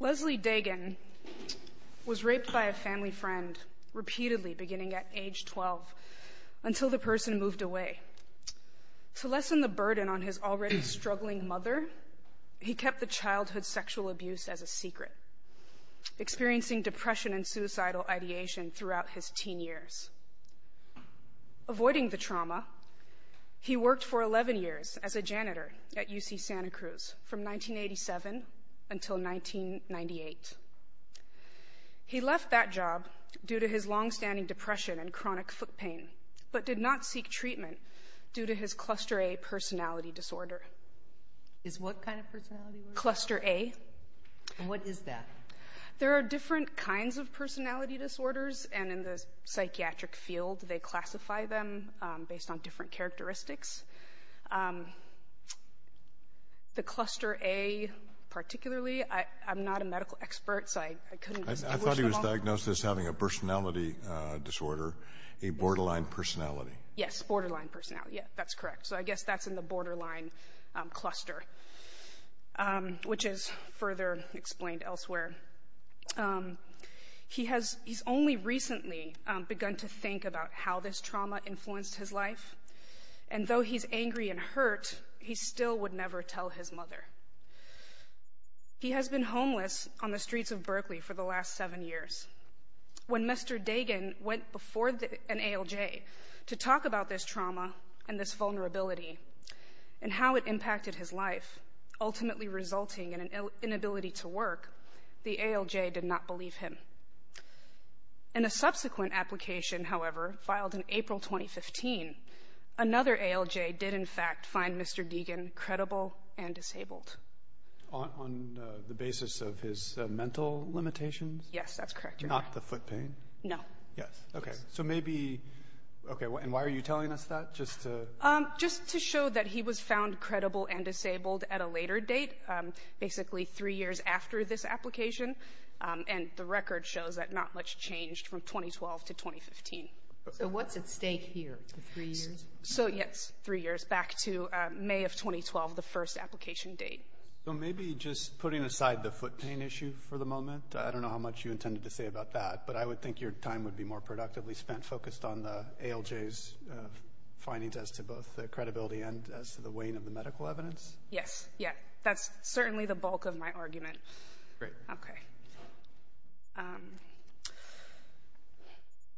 Leslie Degen was raped by a family friend repeatedly beginning at age 12 until the person moved away. To lessen the burden on his already struggling mother, he kept the childhood sexual abuse as a secret, experiencing depression and suicidal ideation throughout his teen years. Avoiding the trauma, he worked for 11 years as a janitor at UC Santa Cruz from 1987 until 1998. He left that job due to his long-standing depression and chronic foot pain, but did not seek treatment due to his Cluster A personality disorder. Is what kind of personality disorder? Cluster A. And what is that? There are different kinds of personality disorders, and in the psychiatric field, they classify them based on different characteristics. The Cluster A particularly, I'm not a medical expert, so I couldn't distinguish them all. I thought he was diagnosed as having a personality disorder, a borderline personality. Yes, borderline personality. Yes, that's correct. So I guess that's in the borderline cluster, which is further explained elsewhere. He's only recently begun to think about how this trauma influenced his life, and though he's angry and hurt, he still would never tell his mother. He has been homeless on the streets of Berkeley for the last seven years. When Mr. Dagan went before an ALJ to talk about this trauma and this vulnerability and how it impacted his life, ultimately resulting in an inability to work, the ALJ did not believe him. In a subsequent application, however, filed in April 2015, another ALJ did, in fact, find Mr. Dagan credible and disabled. On the basis of his mental limitations? Yes, that's correct. Not the foot pain? No. Yes, okay. So maybe, okay, and why are you telling us that, just to? Just to show that he was found credible and disabled at a later date, basically three years after this application, and the record shows that not much changed from 2012 to 2015. So what's at stake here, the three years? So, yes, three years back to May of 2012, the first application date. So maybe just putting aside the foot pain issue for the moment, I don't know how much you intended to say about that, but I would think your time would be more productively spent, focused on the ALJ's findings as to both the credibility and as to the weighing of the medical evidence? Yes, yes, that's certainly the bulk of my argument. Great. Okay.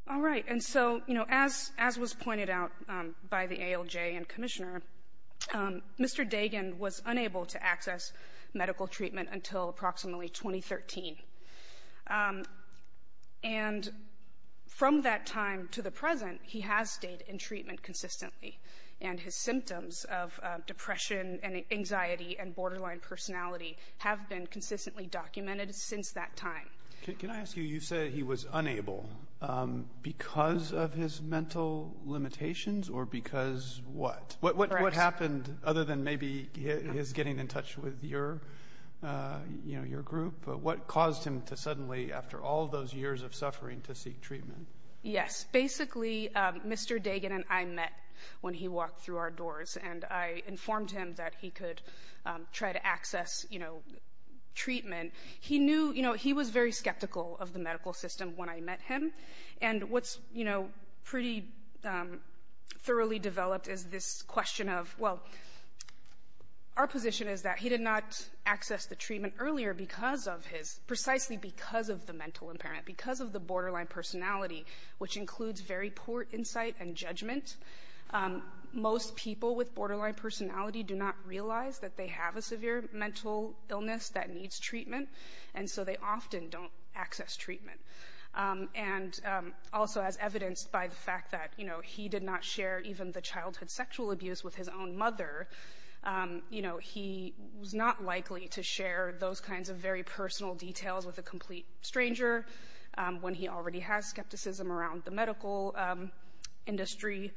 All right, and so, you know, as was pointed out by the ALJ and Commissioner, Mr. Dagan was unable to access medical treatment until approximately 2013. And from that time to the present, he has stayed in treatment consistently, and his symptoms of depression and anxiety and borderline personality have been consistently documented since that time. Can I ask you, you say he was unable because of his mental limitations or because of what happened other than maybe his getting in touch with your group? What caused him to suddenly, after all those years of suffering, to seek treatment? Yes. Basically, Mr. Dagan and I met when he walked through our doors, and I informed him that he could try to access treatment. He was very skeptical of the medical system when I met him, and what's, you know, pretty thoroughly developed is this question of, well, our position is that he did not access the treatment earlier because of his, precisely because of the mental impairment, because of the borderline personality, which includes very poor insight and judgment. Most people with borderline personality do not realize that they have a severe mental illness that needs treatment, and so they often don't access treatment. And also as evidenced by the fact that, you know, he did not share even the childhood sexual abuse with his own mother, you know, he was not likely to share those kinds of very personal details with a complete stranger when he already has skepticism around the medical industry.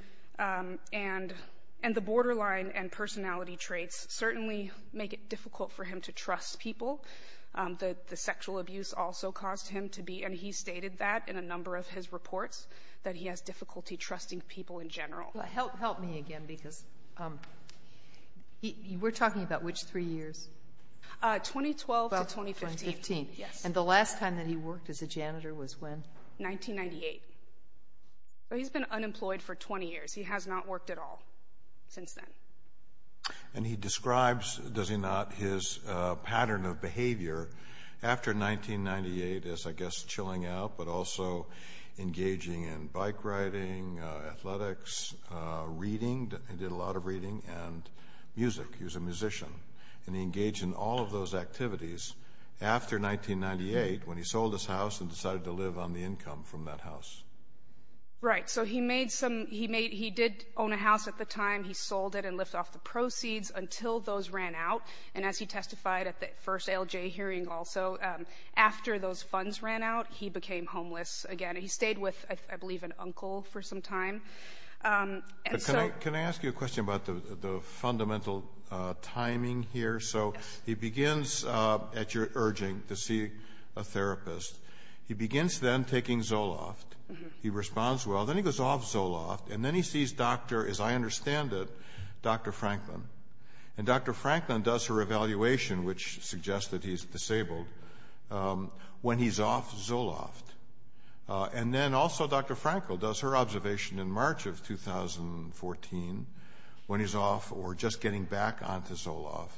And the borderline and personality traits certainly make it difficult for him to trust people. The sexual abuse also caused him to be, and he stated that in a number of his reports, that he has difficulty trusting people in general. Help me again, because we're talking about which three years? 2012 to 2015. About 2015. Yes. And the last time that he worked as a janitor was when? 1998. So he's been unemployed for 20 years. He has not worked at all since then. And he describes, does he not, his pattern of behavior after 1998 as, I guess, chilling out, but also engaging in bike riding, athletics, reading, he did a lot of reading, and music. He was a musician. And he engaged in all of those activities after 1998 when he sold his house and decided to live on the income from that house. Right. So he did own a house at the time. He sold it and left off the proceeds until those ran out. And as he testified at the first ALJ hearing also, after those funds ran out, he became homeless again. He stayed with, I believe, an uncle for some time. Can I ask you a question about the fundamental timing here? So he begins, at your urging, to see a therapist. He begins then taking Zoloft. He responds well. Then he goes off Zoloft. And then he sees Dr., as I understand it, Dr. Franklin. And Dr. Franklin does her evaluation, which suggests that he's disabled, when he's off Zoloft. And then also Dr. Frankel does her observation in March of 2014 when he's off or just getting back onto Zoloft.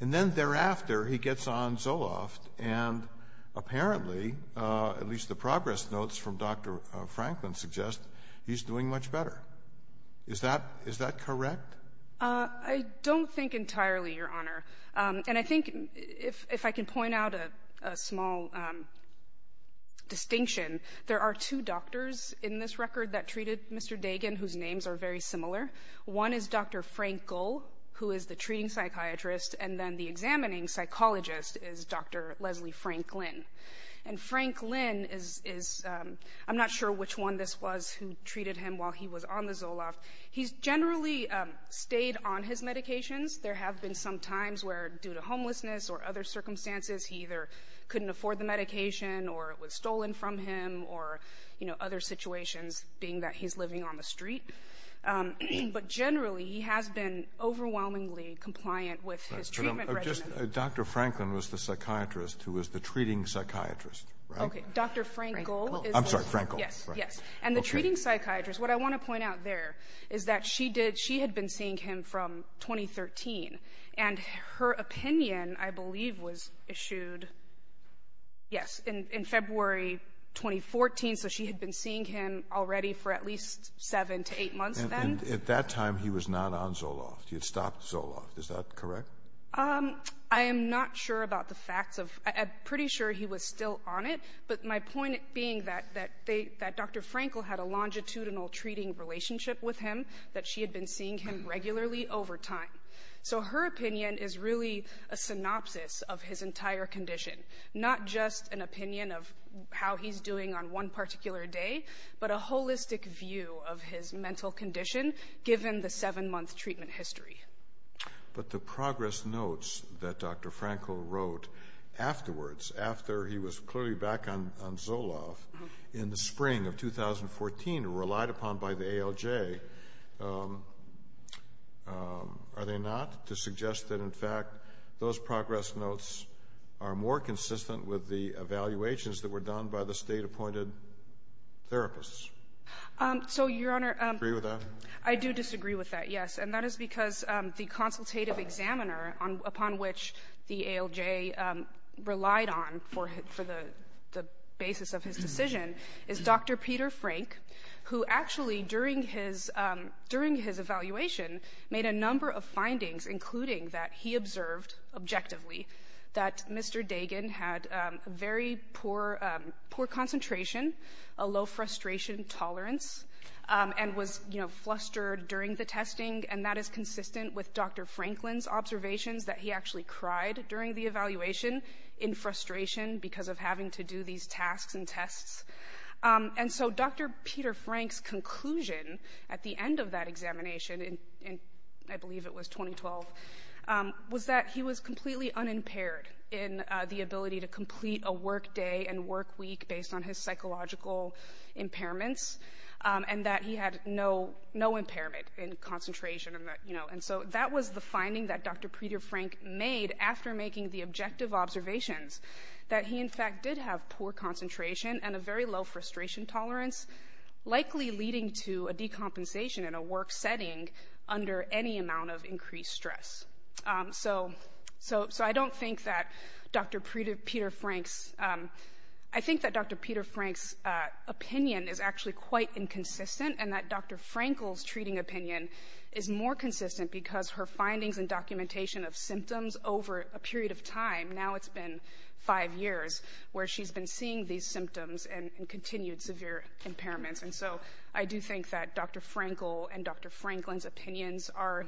And then thereafter, he gets on Zoloft. And apparently, at least the progress notes from Dr. Franklin suggest, he's doing much better. Is that correct? I don't think entirely, Your Honor. And I think if I can point out a small distinction, there are two doctors in this record that treated Mr. Dagan whose names are very similar. One is Dr. Frankel, who is the treating psychiatrist. And then the examining psychologist is Dr. Leslie Franklin. And Franklin is, I'm not sure which one this was who treated him while he was on the Zoloft. He's generally stayed on his medications. There have been some times where, due to homelessness or other circumstances, he either couldn't afford the medication or it was stolen from him or, you know, being that he's living on the street. But generally, he has been overwhelmingly compliant with his treatment regimen. Just Dr. Franklin was the psychiatrist who was the treating psychiatrist, right? Okay. Dr. Frankel is the one. I'm sorry. Frankel. Yes. Yes. And the treating psychiatrist, what I want to point out there is that she did she had been seeing him from 2013. And her opinion, I believe, was issued, yes, in February 2014. So she had been seeing him already for at least seven to eight months then. At that time, he was not on Zoloft. He had stopped Zoloft. Is that correct? I am not sure about the facts. I'm pretty sure he was still on it. But my point being that Dr. Frankel had a longitudinal treating relationship with him that she had been seeing him regularly over time. So her opinion is really a synopsis of his entire condition, not just an opinion of how he's doing on one particular day, but a holistic view of his mental condition given the seven-month treatment history. But the progress notes that Dr. Frankel wrote afterwards, after he was clearly back on Zoloft in the spring of 2014, relied upon by the ALJ, are they not, to suggest that, in fact, those progress notes are more consistent with the evaluations that were done by the State-appointed therapists? So, Your Honor, I do disagree with that, yes. And that is because the consultative examiner upon which the ALJ relied on for the basis of his decision is Dr. Peter Frank, who actually, during his evaluation, made a number of findings, including that he observed objectively that Mr. Dagan had very poor concentration, a low frustration tolerance, and was, you know, flustered during the testing. And that is consistent with Dr. Franklin's observations that he actually cried during the evaluation in frustration because of having to do these tasks and tests. And so Dr. Peter Frank's conclusion at the end of that examination in, I believe it was 2012, was that he was completely unimpaired in the ability to complete a work day and work week based on his psychological impairments, and that he had no impairment in concentration. And so that was the finding that Dr. Peter Frank made after making the objective observations, that he, in fact, did have poor concentration and a very low frustration tolerance, likely leading to a decompensation in a work setting under any amount of increased stress. So I don't think that Dr. Peter Frank's, I think that Dr. Peter Frank's opinion is actually quite inconsistent, and that Dr. Frankl's treating opinion is more consistent because her findings and documentation of symptoms over a period of time, now it's been five years, where she's been seeing these symptoms and continued severe impairments. And so I do think that Dr. Frankl and Dr. Franklin's opinions are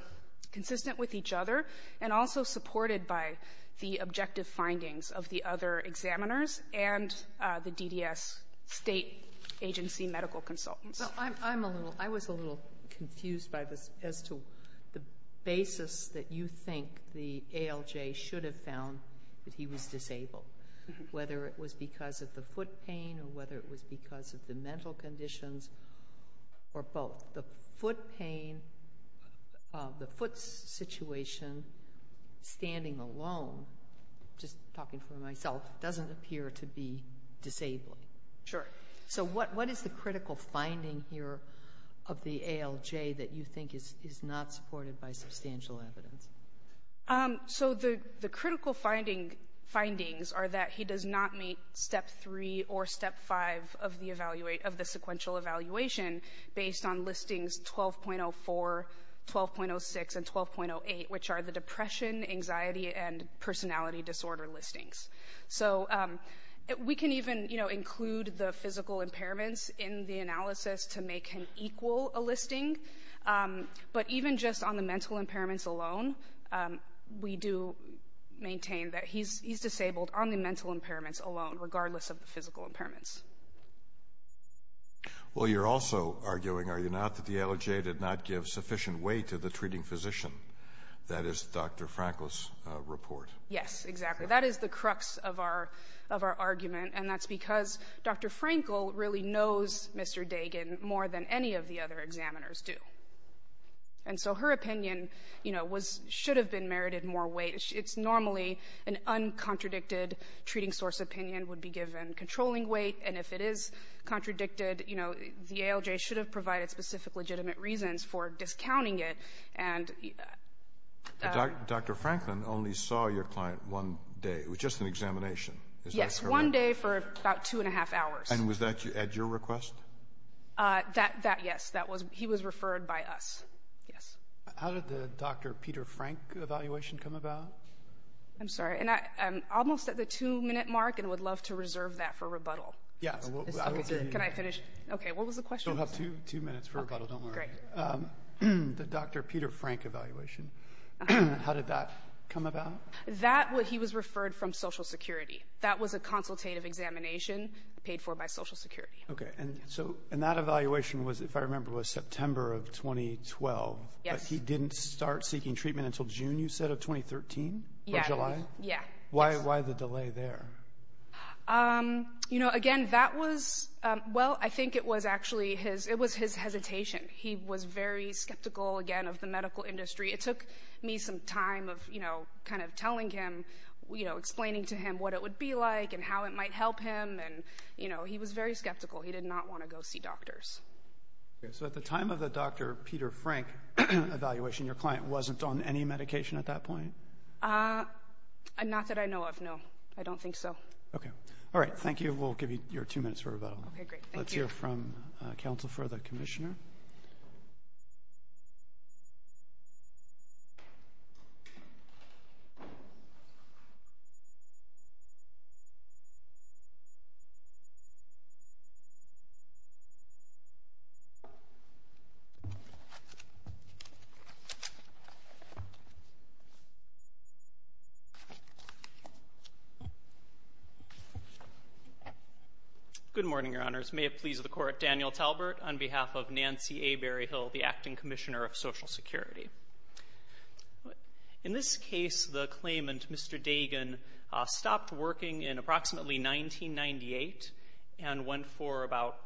consistent with each other, and also supported by the objective findings of the other examiners and the DDS State Agency medical consultants. Sotomayor, I'm a little, I was a little confused by this as to the basis that you think the ALJ should have found that he was disabled, whether it was because of the foot pain or whether it was because of the mental conditions or both. The foot pain, the foot situation, standing alone, just talking for myself, doesn't appear to be disabling. Sure. So what is the critical finding here of the ALJ that you think is not supported by substantial evidence? So the critical findings are that he does not meet Step 3 or Step 5 of the sequential evaluation based on listings 12.04, 12.06, and 12.08, which are the depression, anxiety, and personality disorder listings. So we can even, you know, include the physical impairments in the analysis to make him equal a listing, but even just on the mental impairments alone, we do maintain that he's disabled on the mental impairments alone, regardless of the physical impairments. Well, you're also arguing, are you not, that the ALJ did not give sufficient weight to the treating physician? That is Dr. Frankl's report. Yes, exactly. So that is the crux of our argument, and that's because Dr. Frankl really knows Mr. Dagan more than any of the other examiners do. And so her opinion, you know, should have been merited more weight. It's normally an uncontradicted treating source opinion would be given controlling weight, and if it is contradicted, you know, the ALJ should have provided specific legitimate reasons for discounting it. Dr. Frankl only saw your client one day. It was just an examination. Yes, one day for about two and a half hours. And was that at your request? That, yes. He was referred by us. Yes. How did the Dr. Peter Frank evaluation come about? I'm sorry. Almost at the two-minute mark, and would love to reserve that for rebuttal. Yeah. Okay. What was the question? We'll have two minutes for rebuttal. Don't worry. Okay. The Dr. Peter Frank evaluation, how did that come about? That, he was referred from Social Security. That was a consultative examination paid for by Social Security. Okay. And that evaluation was, if I remember, was September of 2012. Yes. But he didn't start seeking treatment until June, you said, of 2013? Yeah. Or July? Yeah. Why the delay there? You know, again, that was, well, I think it was actually his hesitation. He was very skeptical, again, of the medical industry. It took me some time of, you know, kind of telling him, you know, explaining to him what it would be like and how it might help him. And, you know, he was very skeptical. He did not want to go see doctors. Okay. So at the time of the Dr. Peter Frank evaluation, your client wasn't on any medication at that point? Not that I know of, no. I don't think so. Okay. All right. Thank you. We'll give you your two minutes for rebuttal. Okay, great. Let's hear from Counsel for the Commissioner. Counsel for the Commissioner. Good morning, Your Honors. May it please the Court. Daniel Talbert on behalf of Nancy A. Berryhill, the Acting Commissioner of Social Security. In this case, the claimant, Mr. Dagan, stopped working in approximately 1998 and went for about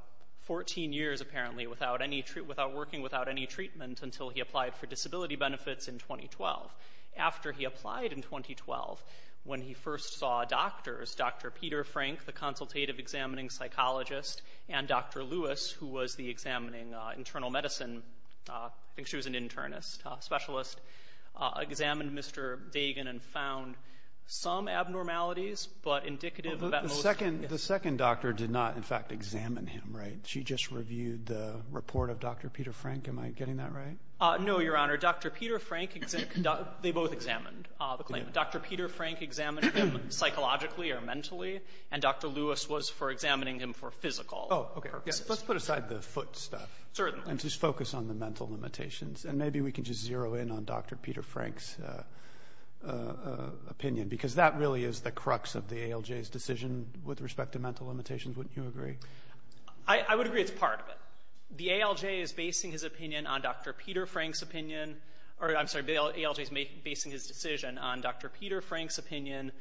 14 years, apparently, without working without any treatment until he applied for disability benefits in 2012. After he applied in 2012, when he first saw doctors, Dr. Peter Frank, the consultative examining psychologist, and Dr. Lewis, who was the examining internal medicine, I think she was an internist, specialist, examined Mr. Dagan and found some abnormalities, but indicative of at most The second doctor did not, in fact, examine him, right? She just reviewed the report of Dr. Peter Frank. Am I getting that right? No, Your Honor. Dr. Peter Frank, they both examined the claimant. Dr. Peter Frank examined him psychologically or mentally, and Dr. Lewis was for examining him for physical purposes. Let's put aside the foot stuff and just focus on the mental limitations, and maybe we can just zero in on Dr. Peter Frank's opinion, because that really is the crux of the ALJ's decision with respect to mental limitations. Wouldn't you agree? I would agree it's part of it. The ALJ is basing his opinion on Dr. Peter Frank's opinion, or I'm sorry, the ALJ is basing his decision on Dr. Peter Frank's opinion,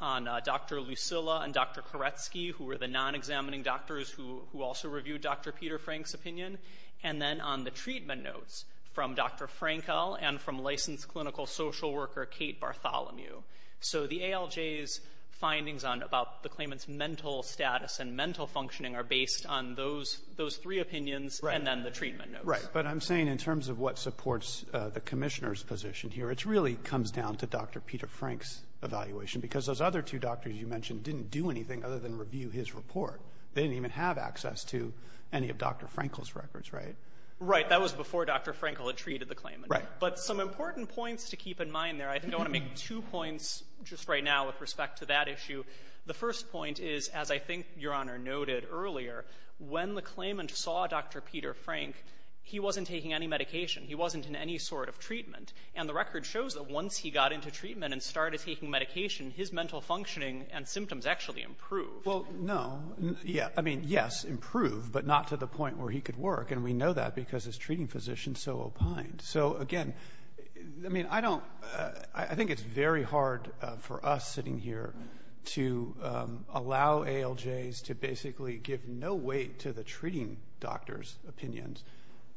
on Dr. Lucilla and Dr. Koretsky, who were the non-examining doctors who also reviewed Dr. Peter Frank's opinion, and then on the treatment notes from Dr. Frankel and from licensed clinical social worker Kate Bartholomew. So the ALJ's findings about the claimant's mental status and mental functioning are based on those three opinions and then the treatment notes. Right. But I'm saying in terms of what supports the Commissioner's position here, it really comes down to Dr. Peter Frank's evaluation, because those other two doctors you mentioned didn't do anything other than review his report. They didn't even have access to any of Dr. Frankel's records, right? Right. That was before Dr. Frankel had treated the claimant. Right. But some important points to keep in mind there, I think I want to make two points just right now with respect to that issue. The first point is, as I think Your Honor noted earlier, when the claimant saw Dr. Peter Frank, he wasn't taking any medication. He wasn't in any sort of treatment. And the record shows that once he got into treatment and started taking medication, his mental functioning and symptoms actually improved. Well, no. Yeah. I mean, yes, improved, but not to the point where he could work. And we know that because his treating physician so opined. So, again, I mean, I don't – I think it's very hard for us sitting here to allow ALJs to basically give no weight to the treating doctor's opinions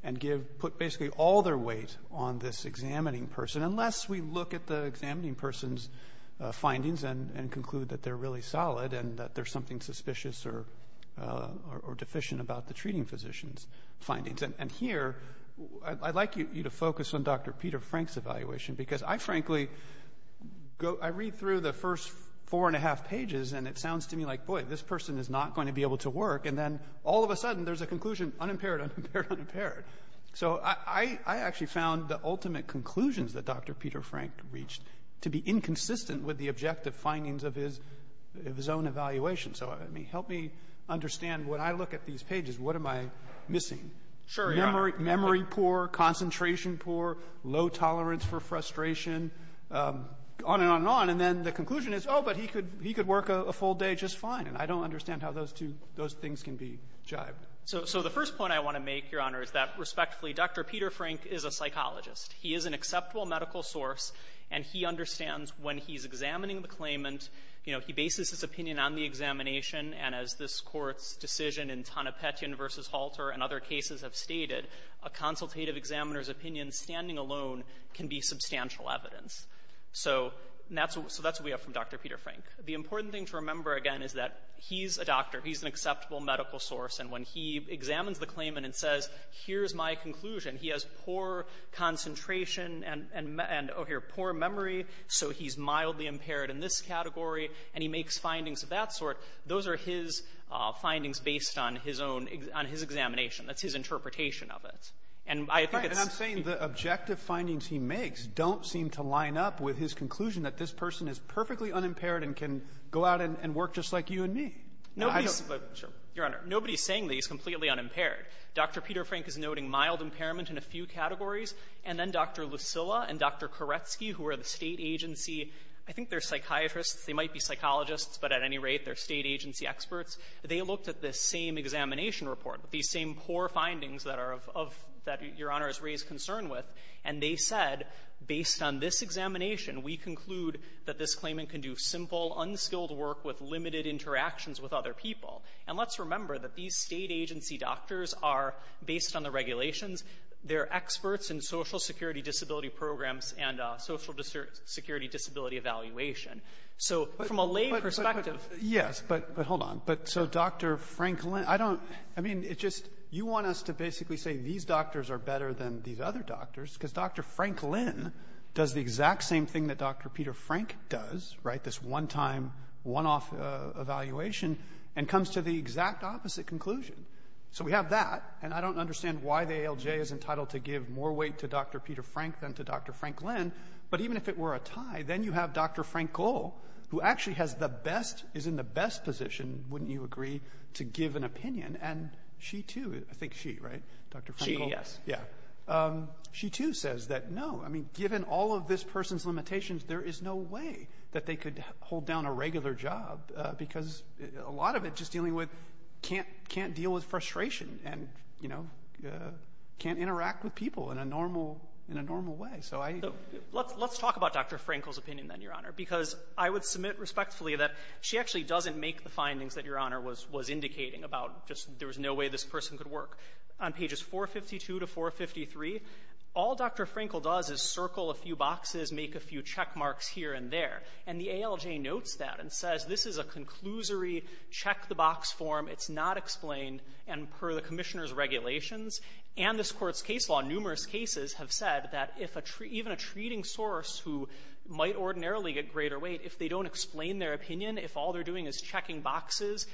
and give – put basically all their weight on this examining person, unless we look at the examining person's findings and conclude that they're really solid and that there's something suspicious or deficient about the treating physician's findings. And here I'd like you to focus on Dr. Peter Frank's evaluation, because I frankly go – I read through the first four and a half pages, and it sounds to me like, boy, this person is not going to be able to work. And then all of a sudden there's a conclusion, unimpaired, unimpaired, unimpaired. So I actually found the ultimate conclusions that Dr. Peter Frank reached to be inconsistent with the objective findings of his own evaluation. So, I mean, help me understand when I look at these pages, what am I missing? Sure. Memory poor, concentration poor, low tolerance for frustration, on and on and on. And then the conclusion is, oh, but he could work a full day just fine. And I don't understand how those two – those things can be jibed. So the first point I want to make, Your Honor, is that, respectfully, Dr. Peter Frank is a psychologist. He is an acceptable medical source, and he understands when he's examining the claimant, you know, he bases his opinion on the examination. And as this Court's decision in Tonopetian v. Halter and other cases have stated, a consultative examiner's opinion standing alone can be substantial evidence. So that's what we have from Dr. Peter Frank. The important thing to remember, again, is that he's a doctor. He's an acceptable medical source. And when he examines the claimant and says, here's my conclusion, he has poor concentration and, oh, here, poor memory, so he's mildly impaired in this category, and he makes findings of that sort, those are his findings based on his own – on his examination. That's his interpretation of it. And I think it's – that this person is perfectly unimpaired and can go out and work just like you and me. Now, I don't – Fisherman, your Honor, nobody's saying that he's completely unimpaired. Dr. Peter Frank is noting mild impairment in a few categories. And then Dr. Lucilla and Dr. Koretsky, who are the State agency – I think they're psychiatrists. They might be psychologists, but at any rate, they're State agency experts. They looked at the same examination report, the same poor findings that are of – that Your Honor has raised concern with, and they said, based on this examination, we conclude that this claimant can do simple, unskilled work with limited interactions with other people. And let's remember that these State agency doctors are, based on the regulations, they're experts in Social Security disability programs and Social Security disability evaluation. So from a lay perspective – But – yes, but hold on. But so Dr. Franklin – I don't – I mean, it just – you want us to basically say these doctors are better than these other doctors, because Dr. Franklin does the exact same thing that Dr. Peter Frank does, right, this one-time, one-off evaluation, and comes to the exact opposite conclusion. So we have that, and I don't understand why the ALJ is entitled to give more weight to Dr. Peter Frank than to Dr. Franklin. But even if it were a tie, then you have Dr. Frank Gohl, who actually has the best – is in the best position, wouldn't you agree, to give an opinion. And she, too – I think she, right, Dr. Frankl? She, yes. Yeah. She, too, says that, no, I mean, given all of this person's limitations, there is no way that they could hold down a regular job, because a lot of it, just dealing with – can't – can't deal with frustration and, you know, can't interact with people in a normal – in a normal way. So I – Let's talk about Dr. Frankl's opinion, then, Your Honor, because I would submit respectfully that she actually doesn't make the findings that Your Honor was indicating about just there was no way this person could work. On pages 452 to 453, all Dr. Frankl does is circle a few boxes, make a few checkmarks here and there. And the ALJ notes that and says this is a conclusory check-the-box form. It's not explained. And per the Commissioner's regulations and this Court's case law, numerous cases have said that if a – even a treating source who might ordinarily get greater weight, if they don't explain their opinion, if all they're doing is checking boxes,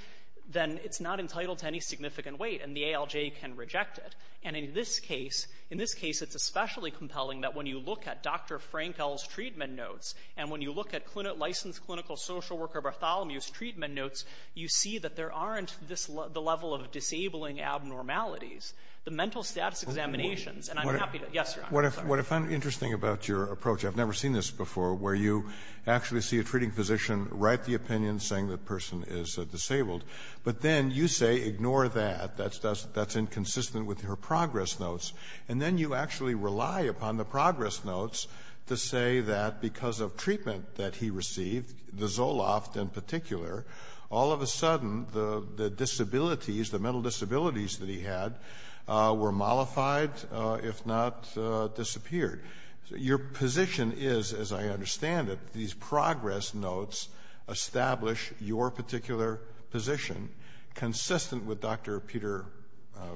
then it's not entitled to any significant weight, and the ALJ can reject it. And in this case, in this case, it's especially compelling that when you look at Dr. Frankl's treatment notes and when you look at licensed clinical social worker Bartholomew's treatment notes, you see that there aren't this – the level of disabling abnormalities. The mental status examinations, and I'm happy to – yes, Your Honor. What I find interesting about your approach, I've never seen this before, where you actually see a treating physician write the opinion saying the person is disabled, but then you say ignore that, that's inconsistent with her progress notes, and then you actually rely upon the progress notes to say that because of treatment that he received, the Zoloft in particular, all of a sudden, the disabilities, the mental disabilities that he had, were mollified, if not disabled. Your position is, as I understand it, these progress notes establish your particular position consistent with Dr. Peter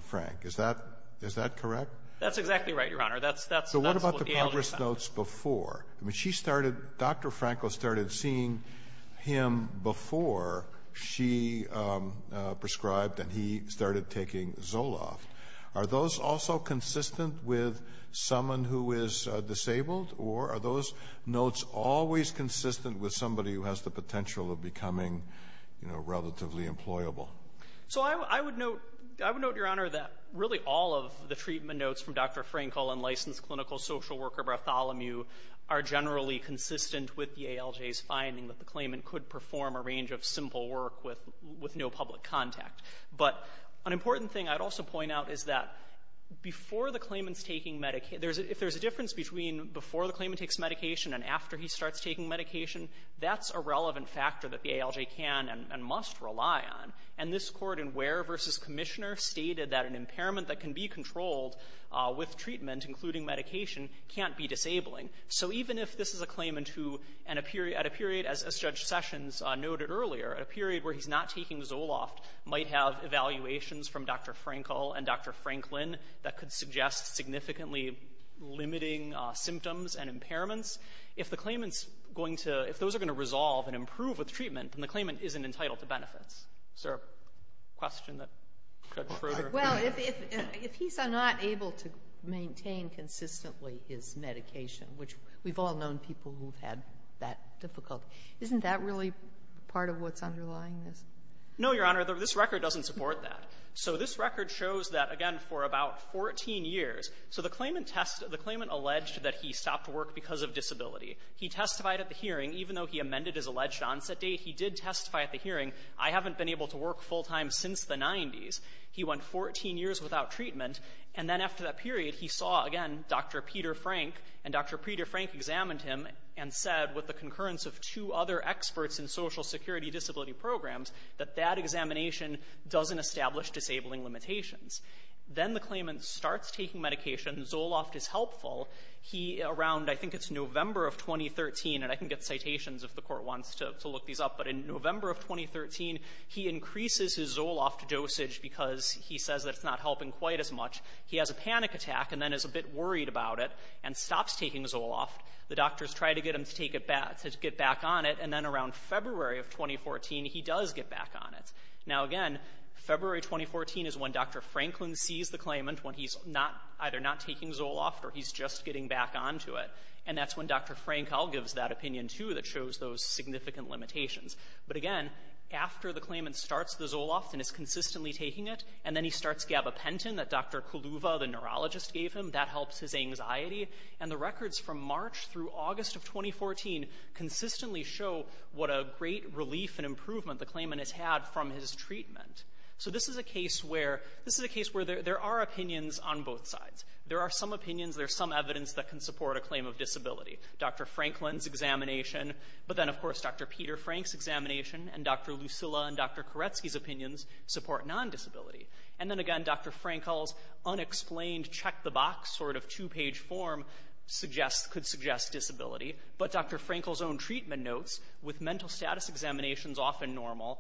Frank. Is that – is that correct? That's exactly right, Your Honor. That's what the ALJ found. So what about the progress notes before? I mean, she started – Dr. Frankl started seeing him before she prescribed and he started taking Zoloft. Are those also consistent with someone who is disabled, or are those notes always consistent with somebody who has the potential of becoming, you know, relatively employable? So I would note – I would note, Your Honor, that really all of the treatment notes from Dr. Frankl and licensed clinical social worker Bartholomew are generally consistent with the ALJ's finding that the claimant could perform a range of simple work with no public contact. But an important thing I'd also point out is that before the claimant's taking – if there's a difference between before the claimant takes medication and after he starts taking medication, that's a relevant factor that the ALJ can and must rely on. And this Court in Ware v. Commissioner stated that an impairment that can be controlled with treatment, including medication, can't be disabling. So even if this is a claimant who, at a period – as Judge Sessions noted earlier, at a period where he's not taking Zoloft, might have evaluations from Dr. Frankl and Dr. Franklin that could suggest significantly limiting symptoms and impairments, if the claimant's going to – if those are going to resolve and improve with treatment, then the claimant isn't entitled to benefits. Is there a question that could further? Sotomayor Well, if he's not able to maintain consistently his medication, which we've all known people who've had that difficult, isn't that really part of what's underlying this? Fisher No, Your Honor. This record doesn't support that. So this record shows that, again, for about 14 years – so the claimant tests – the claimant alleged that he stopped work because of disability. He testified at the hearing. Even though he amended his alleged onset date, he did testify at the hearing, I haven't been able to work full time since the 90s. He went 14 years without treatment. And then after that period, he saw again Dr. Peter Frank, and Dr. Peter Frank examined him and said, with the concurrence of two other experts in Social Security disability programs, that that examination doesn't establish disabling limitations. Then the claimant starts taking medication. Zoloft is helpful. He, around – I think it's November of 2013, and I can get citations if the Court wants to look these up, but in November of 2013, he increases his Zoloft dosage because he says that it's not helping quite as much. He has a panic attack and then is a bit worried about it and stops taking Zoloft. The doctors try to get him to take it back – to get back on it, and then around February of 2014, he does get back on it. Now, again, February 2014 is when Dr. Franklin sees the claimant when he's not – either not taking Zoloft or he's just getting back on to it. And that's when Dr. Frank all gives that opinion, too, that shows those significant limitations. But again, after the claimant starts the Zoloft and is consistently taking it, and then he starts gabapentin that Dr. Kuluva, the neurologist, gave him, that helps his anxiety. And the records from March through August of 2014 consistently show what a great relief and improvement the claimant has had from his treatment. So this is a case where – this is a case where there are opinions on both sides. There are some opinions, there's some evidence that can support a claim of disability. Dr. Franklin's examination, but then, of course, Dr. Peter Frank's examination, and Dr. Lucila and Dr. Koretsky's opinions support non-disability. And then again, Dr. Frank all's unexplained check-the-box sort of two-page form suggests – could suggest disability. But Dr. Frank all's own treatment notes, with mental status examinations often normal,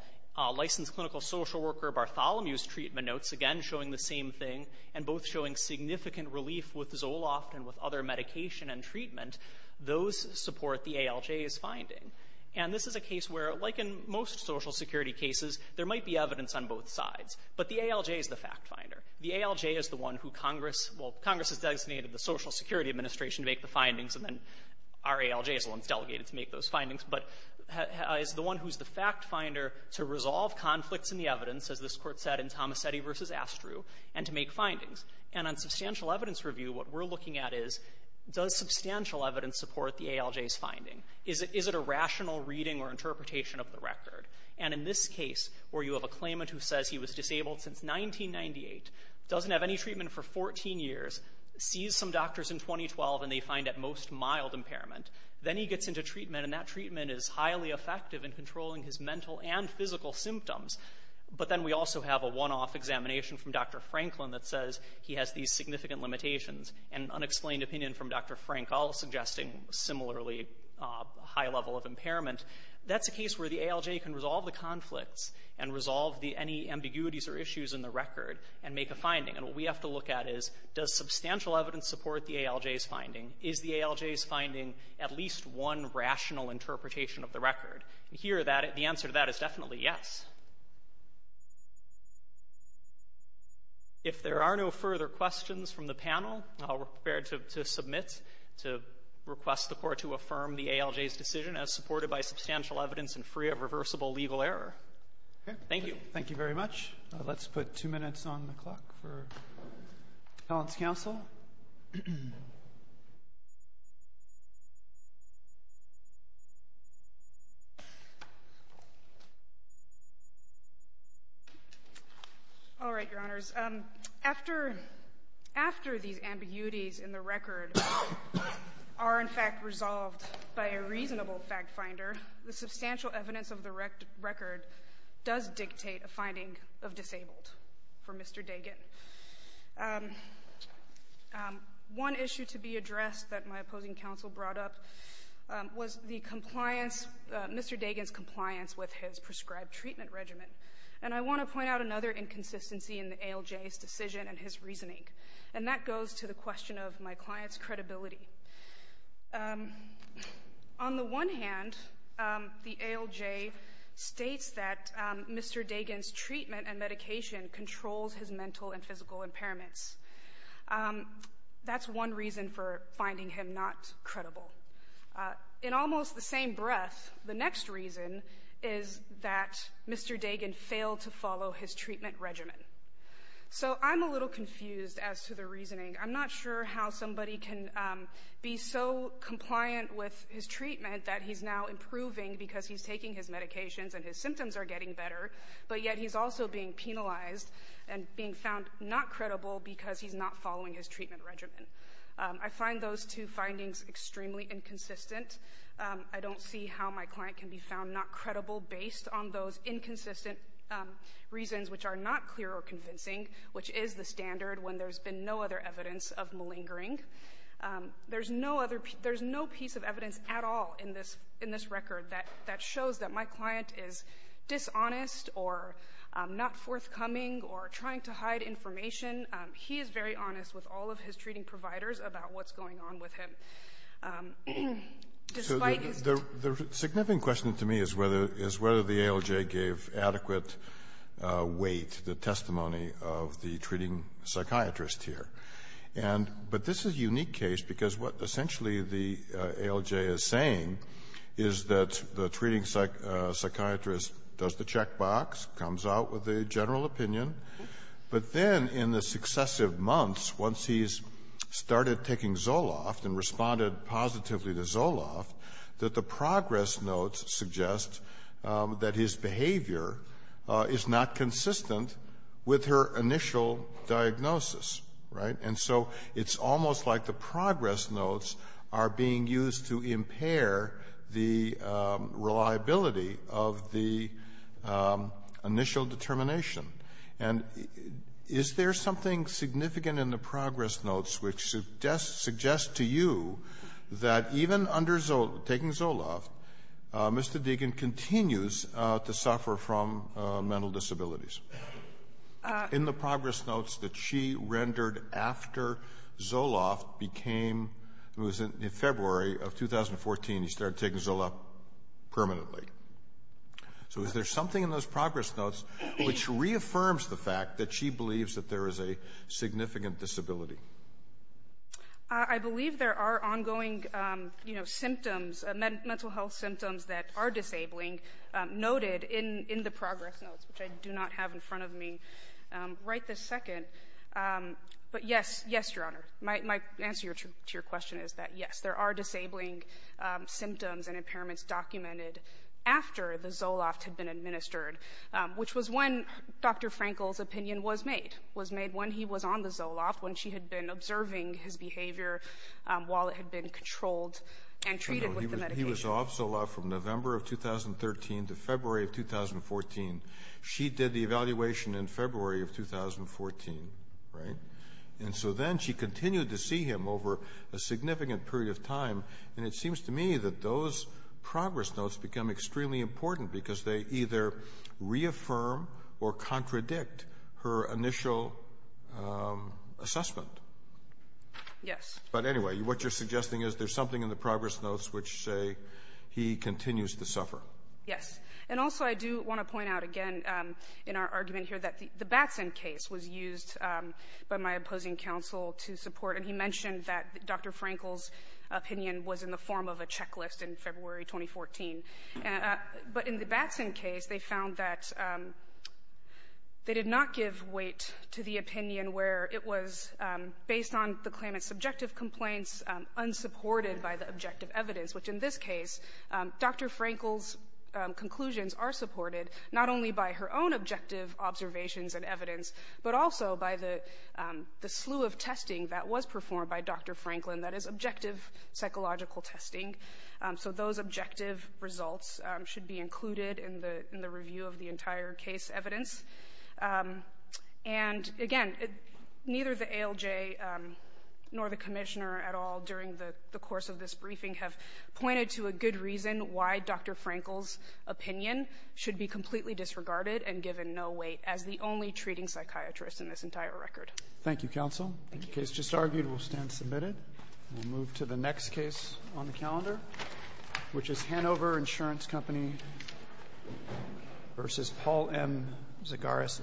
licensed clinical social worker Bartholomew's treatment notes, again, showing the same thing, and both showing significant relief with Zoloft and with other medication and treatment, those support the ALJ's finding. And this is a case where, like in most social security cases, there might be evidence on both sides. But the ALJ is the fact-finder. The ALJ is the one who Congress – well, Congress has designated the Social Security Administration to make the findings, and then our ALJ is the one that's delegated to make those findings, but is the one who's the fact-finder to resolve conflicts in the evidence, as this Court said in Tomasetti v. Astru, and to make findings. And on substantial evidence review, what we're looking at is, does substantial evidence support the ALJ's finding? Is it a rational reading or interpretation of the record? And in this case, where you have a claimant who says he was disabled since 1998, doesn't have any treatment for 14 years, sees some doctors in 2012, and they find at most mild impairment. Then he gets into treatment, and that treatment is highly effective in controlling his mental and physical symptoms. But then we also have a one-off examination from Dr. Franklin that says he has these significant limitations, and unexplained opinion from Dr. Frank, all suggesting similarly high level of impairment. That's a case where the ALJ can And what we have to look at is, does substantial evidence support the ALJ's finding? Is the ALJ's finding at least one rational interpretation of the record? And here that the answer to that is definitely yes. If there are no further questions from the panel, I'll prepare to submit to request the Court to affirm the ALJ's decision as supported by substantial evidence and free of reversible legal error. Thank you. All right. Thank you very much. Let's put two minutes on the clock for Appellant's counsel. All right, Your Honors. After these ambiguities in the record are in fact resolved by a reasonable fact finder, the substantial evidence of the record does dictate a finding of disabled for Mr. Dagan. One issue to be addressed that my opposing counsel brought up was Mr. Dagan's compliance with his prescribed treatment regimen. And I want to point out another inconsistency in the ALJ's decision and his reasoning. And that goes to the question of my client's the ALJ states that Mr. Dagan's treatment and medication controls his mental and physical impairments. That's one reason for finding him not credible. In almost the same breath, the next reason is that Mr. Dagan failed to follow his treatment regimen. So I'm a little confused as to the reasoning. I'm not sure how his treatment that he's now improving because he's taking his medications and his symptoms are getting better, but yet he's also being penalized and being found not credible because he's not following his treatment regimen. I find those two findings extremely inconsistent. I don't see how my client can be found not credible based on those inconsistent reasons which are not clear or convincing, which is the standard when there's been no other evidence of malingering. There's no other piece of evidence at all in this record that shows that my client is dishonest or not forthcoming or trying to hide information. He is very honest with all of his treating providers about what's going on with him. Despite his ---- Kennedy. So the significant question to me is whether the ALJ gave adequate weight, the testimony of the treating psychiatrist here. But this is a unique case because what essentially the ALJ is saying is that the treating psychiatrist does the checkbox, comes out with a general opinion, but then in the successive months, once he's started taking Zoloft and responded positively to Zoloft, that the progress notes suggest that his behavior is not consistent with her initial diagnosis, right? And so it's almost like the progress notes are being used to impair the reliability of the initial determination. And is there something significant in the progress notes which suggests to you that even under Zoloft, taking Zoloft, Mr. Deegan continues to suffer from mental disabilities? In the progress notes that she rendered after Zoloft became ---- it was in February of 2014, he started taking Zoloft permanently. So is there something in those progress notes which reaffirms the fact that she believes that there is a significant disability? I believe there are ongoing, you know, symptoms, mental health symptoms that are disabling noted in the progress notes, which I do not have in front of me right this second. But, yes, yes, Your Honor. My answer to your question is that, yes, there are disabling symptoms and impairments documented after the Zoloft had been administered, which was when Dr. Frankel's opinion was made, was made when he was on the Zoloft, when she had been observing his behavior while it had been controlled and treated with the medication. He was off Zoloft from November of 2013 to February of 2014. She did the evaluation in February of 2014, right? And so then she continued to see him over a significant period of time. And it seems to me that those progress notes become extremely important because they either reaffirm or contradict her initial assessment. Yes. But, anyway, what you're suggesting is there's something in the progress notes which say he continues to suffer. Yes. And also I do want to point out again in our argument here that the Batson case was used by my opposing counsel to support, and he mentioned that Dr. Frankel's But in the Batson case, they found that they did not give weight to the opinion where it was based on the claimant's subjective complaints, unsupported by the objective evidence, which in this case, Dr. Frankel's conclusions are supported not only by her own objective observations and evidence, but also by the slew of testing that was results should be included in the review of the entire case evidence. And, again, neither the ALJ nor the Commissioner at all during the course of this briefing have pointed to a good reason why Dr. Frankel's opinion should be completely disregarded and given no weight as the only treating psychiatrist in this entire record. Thank you, counsel. Thank you. The case just argued will stand submitted. We'll move to the next case on the calendar, which is Hanover Insurance Company v. Paul M. Zagaras, Inc.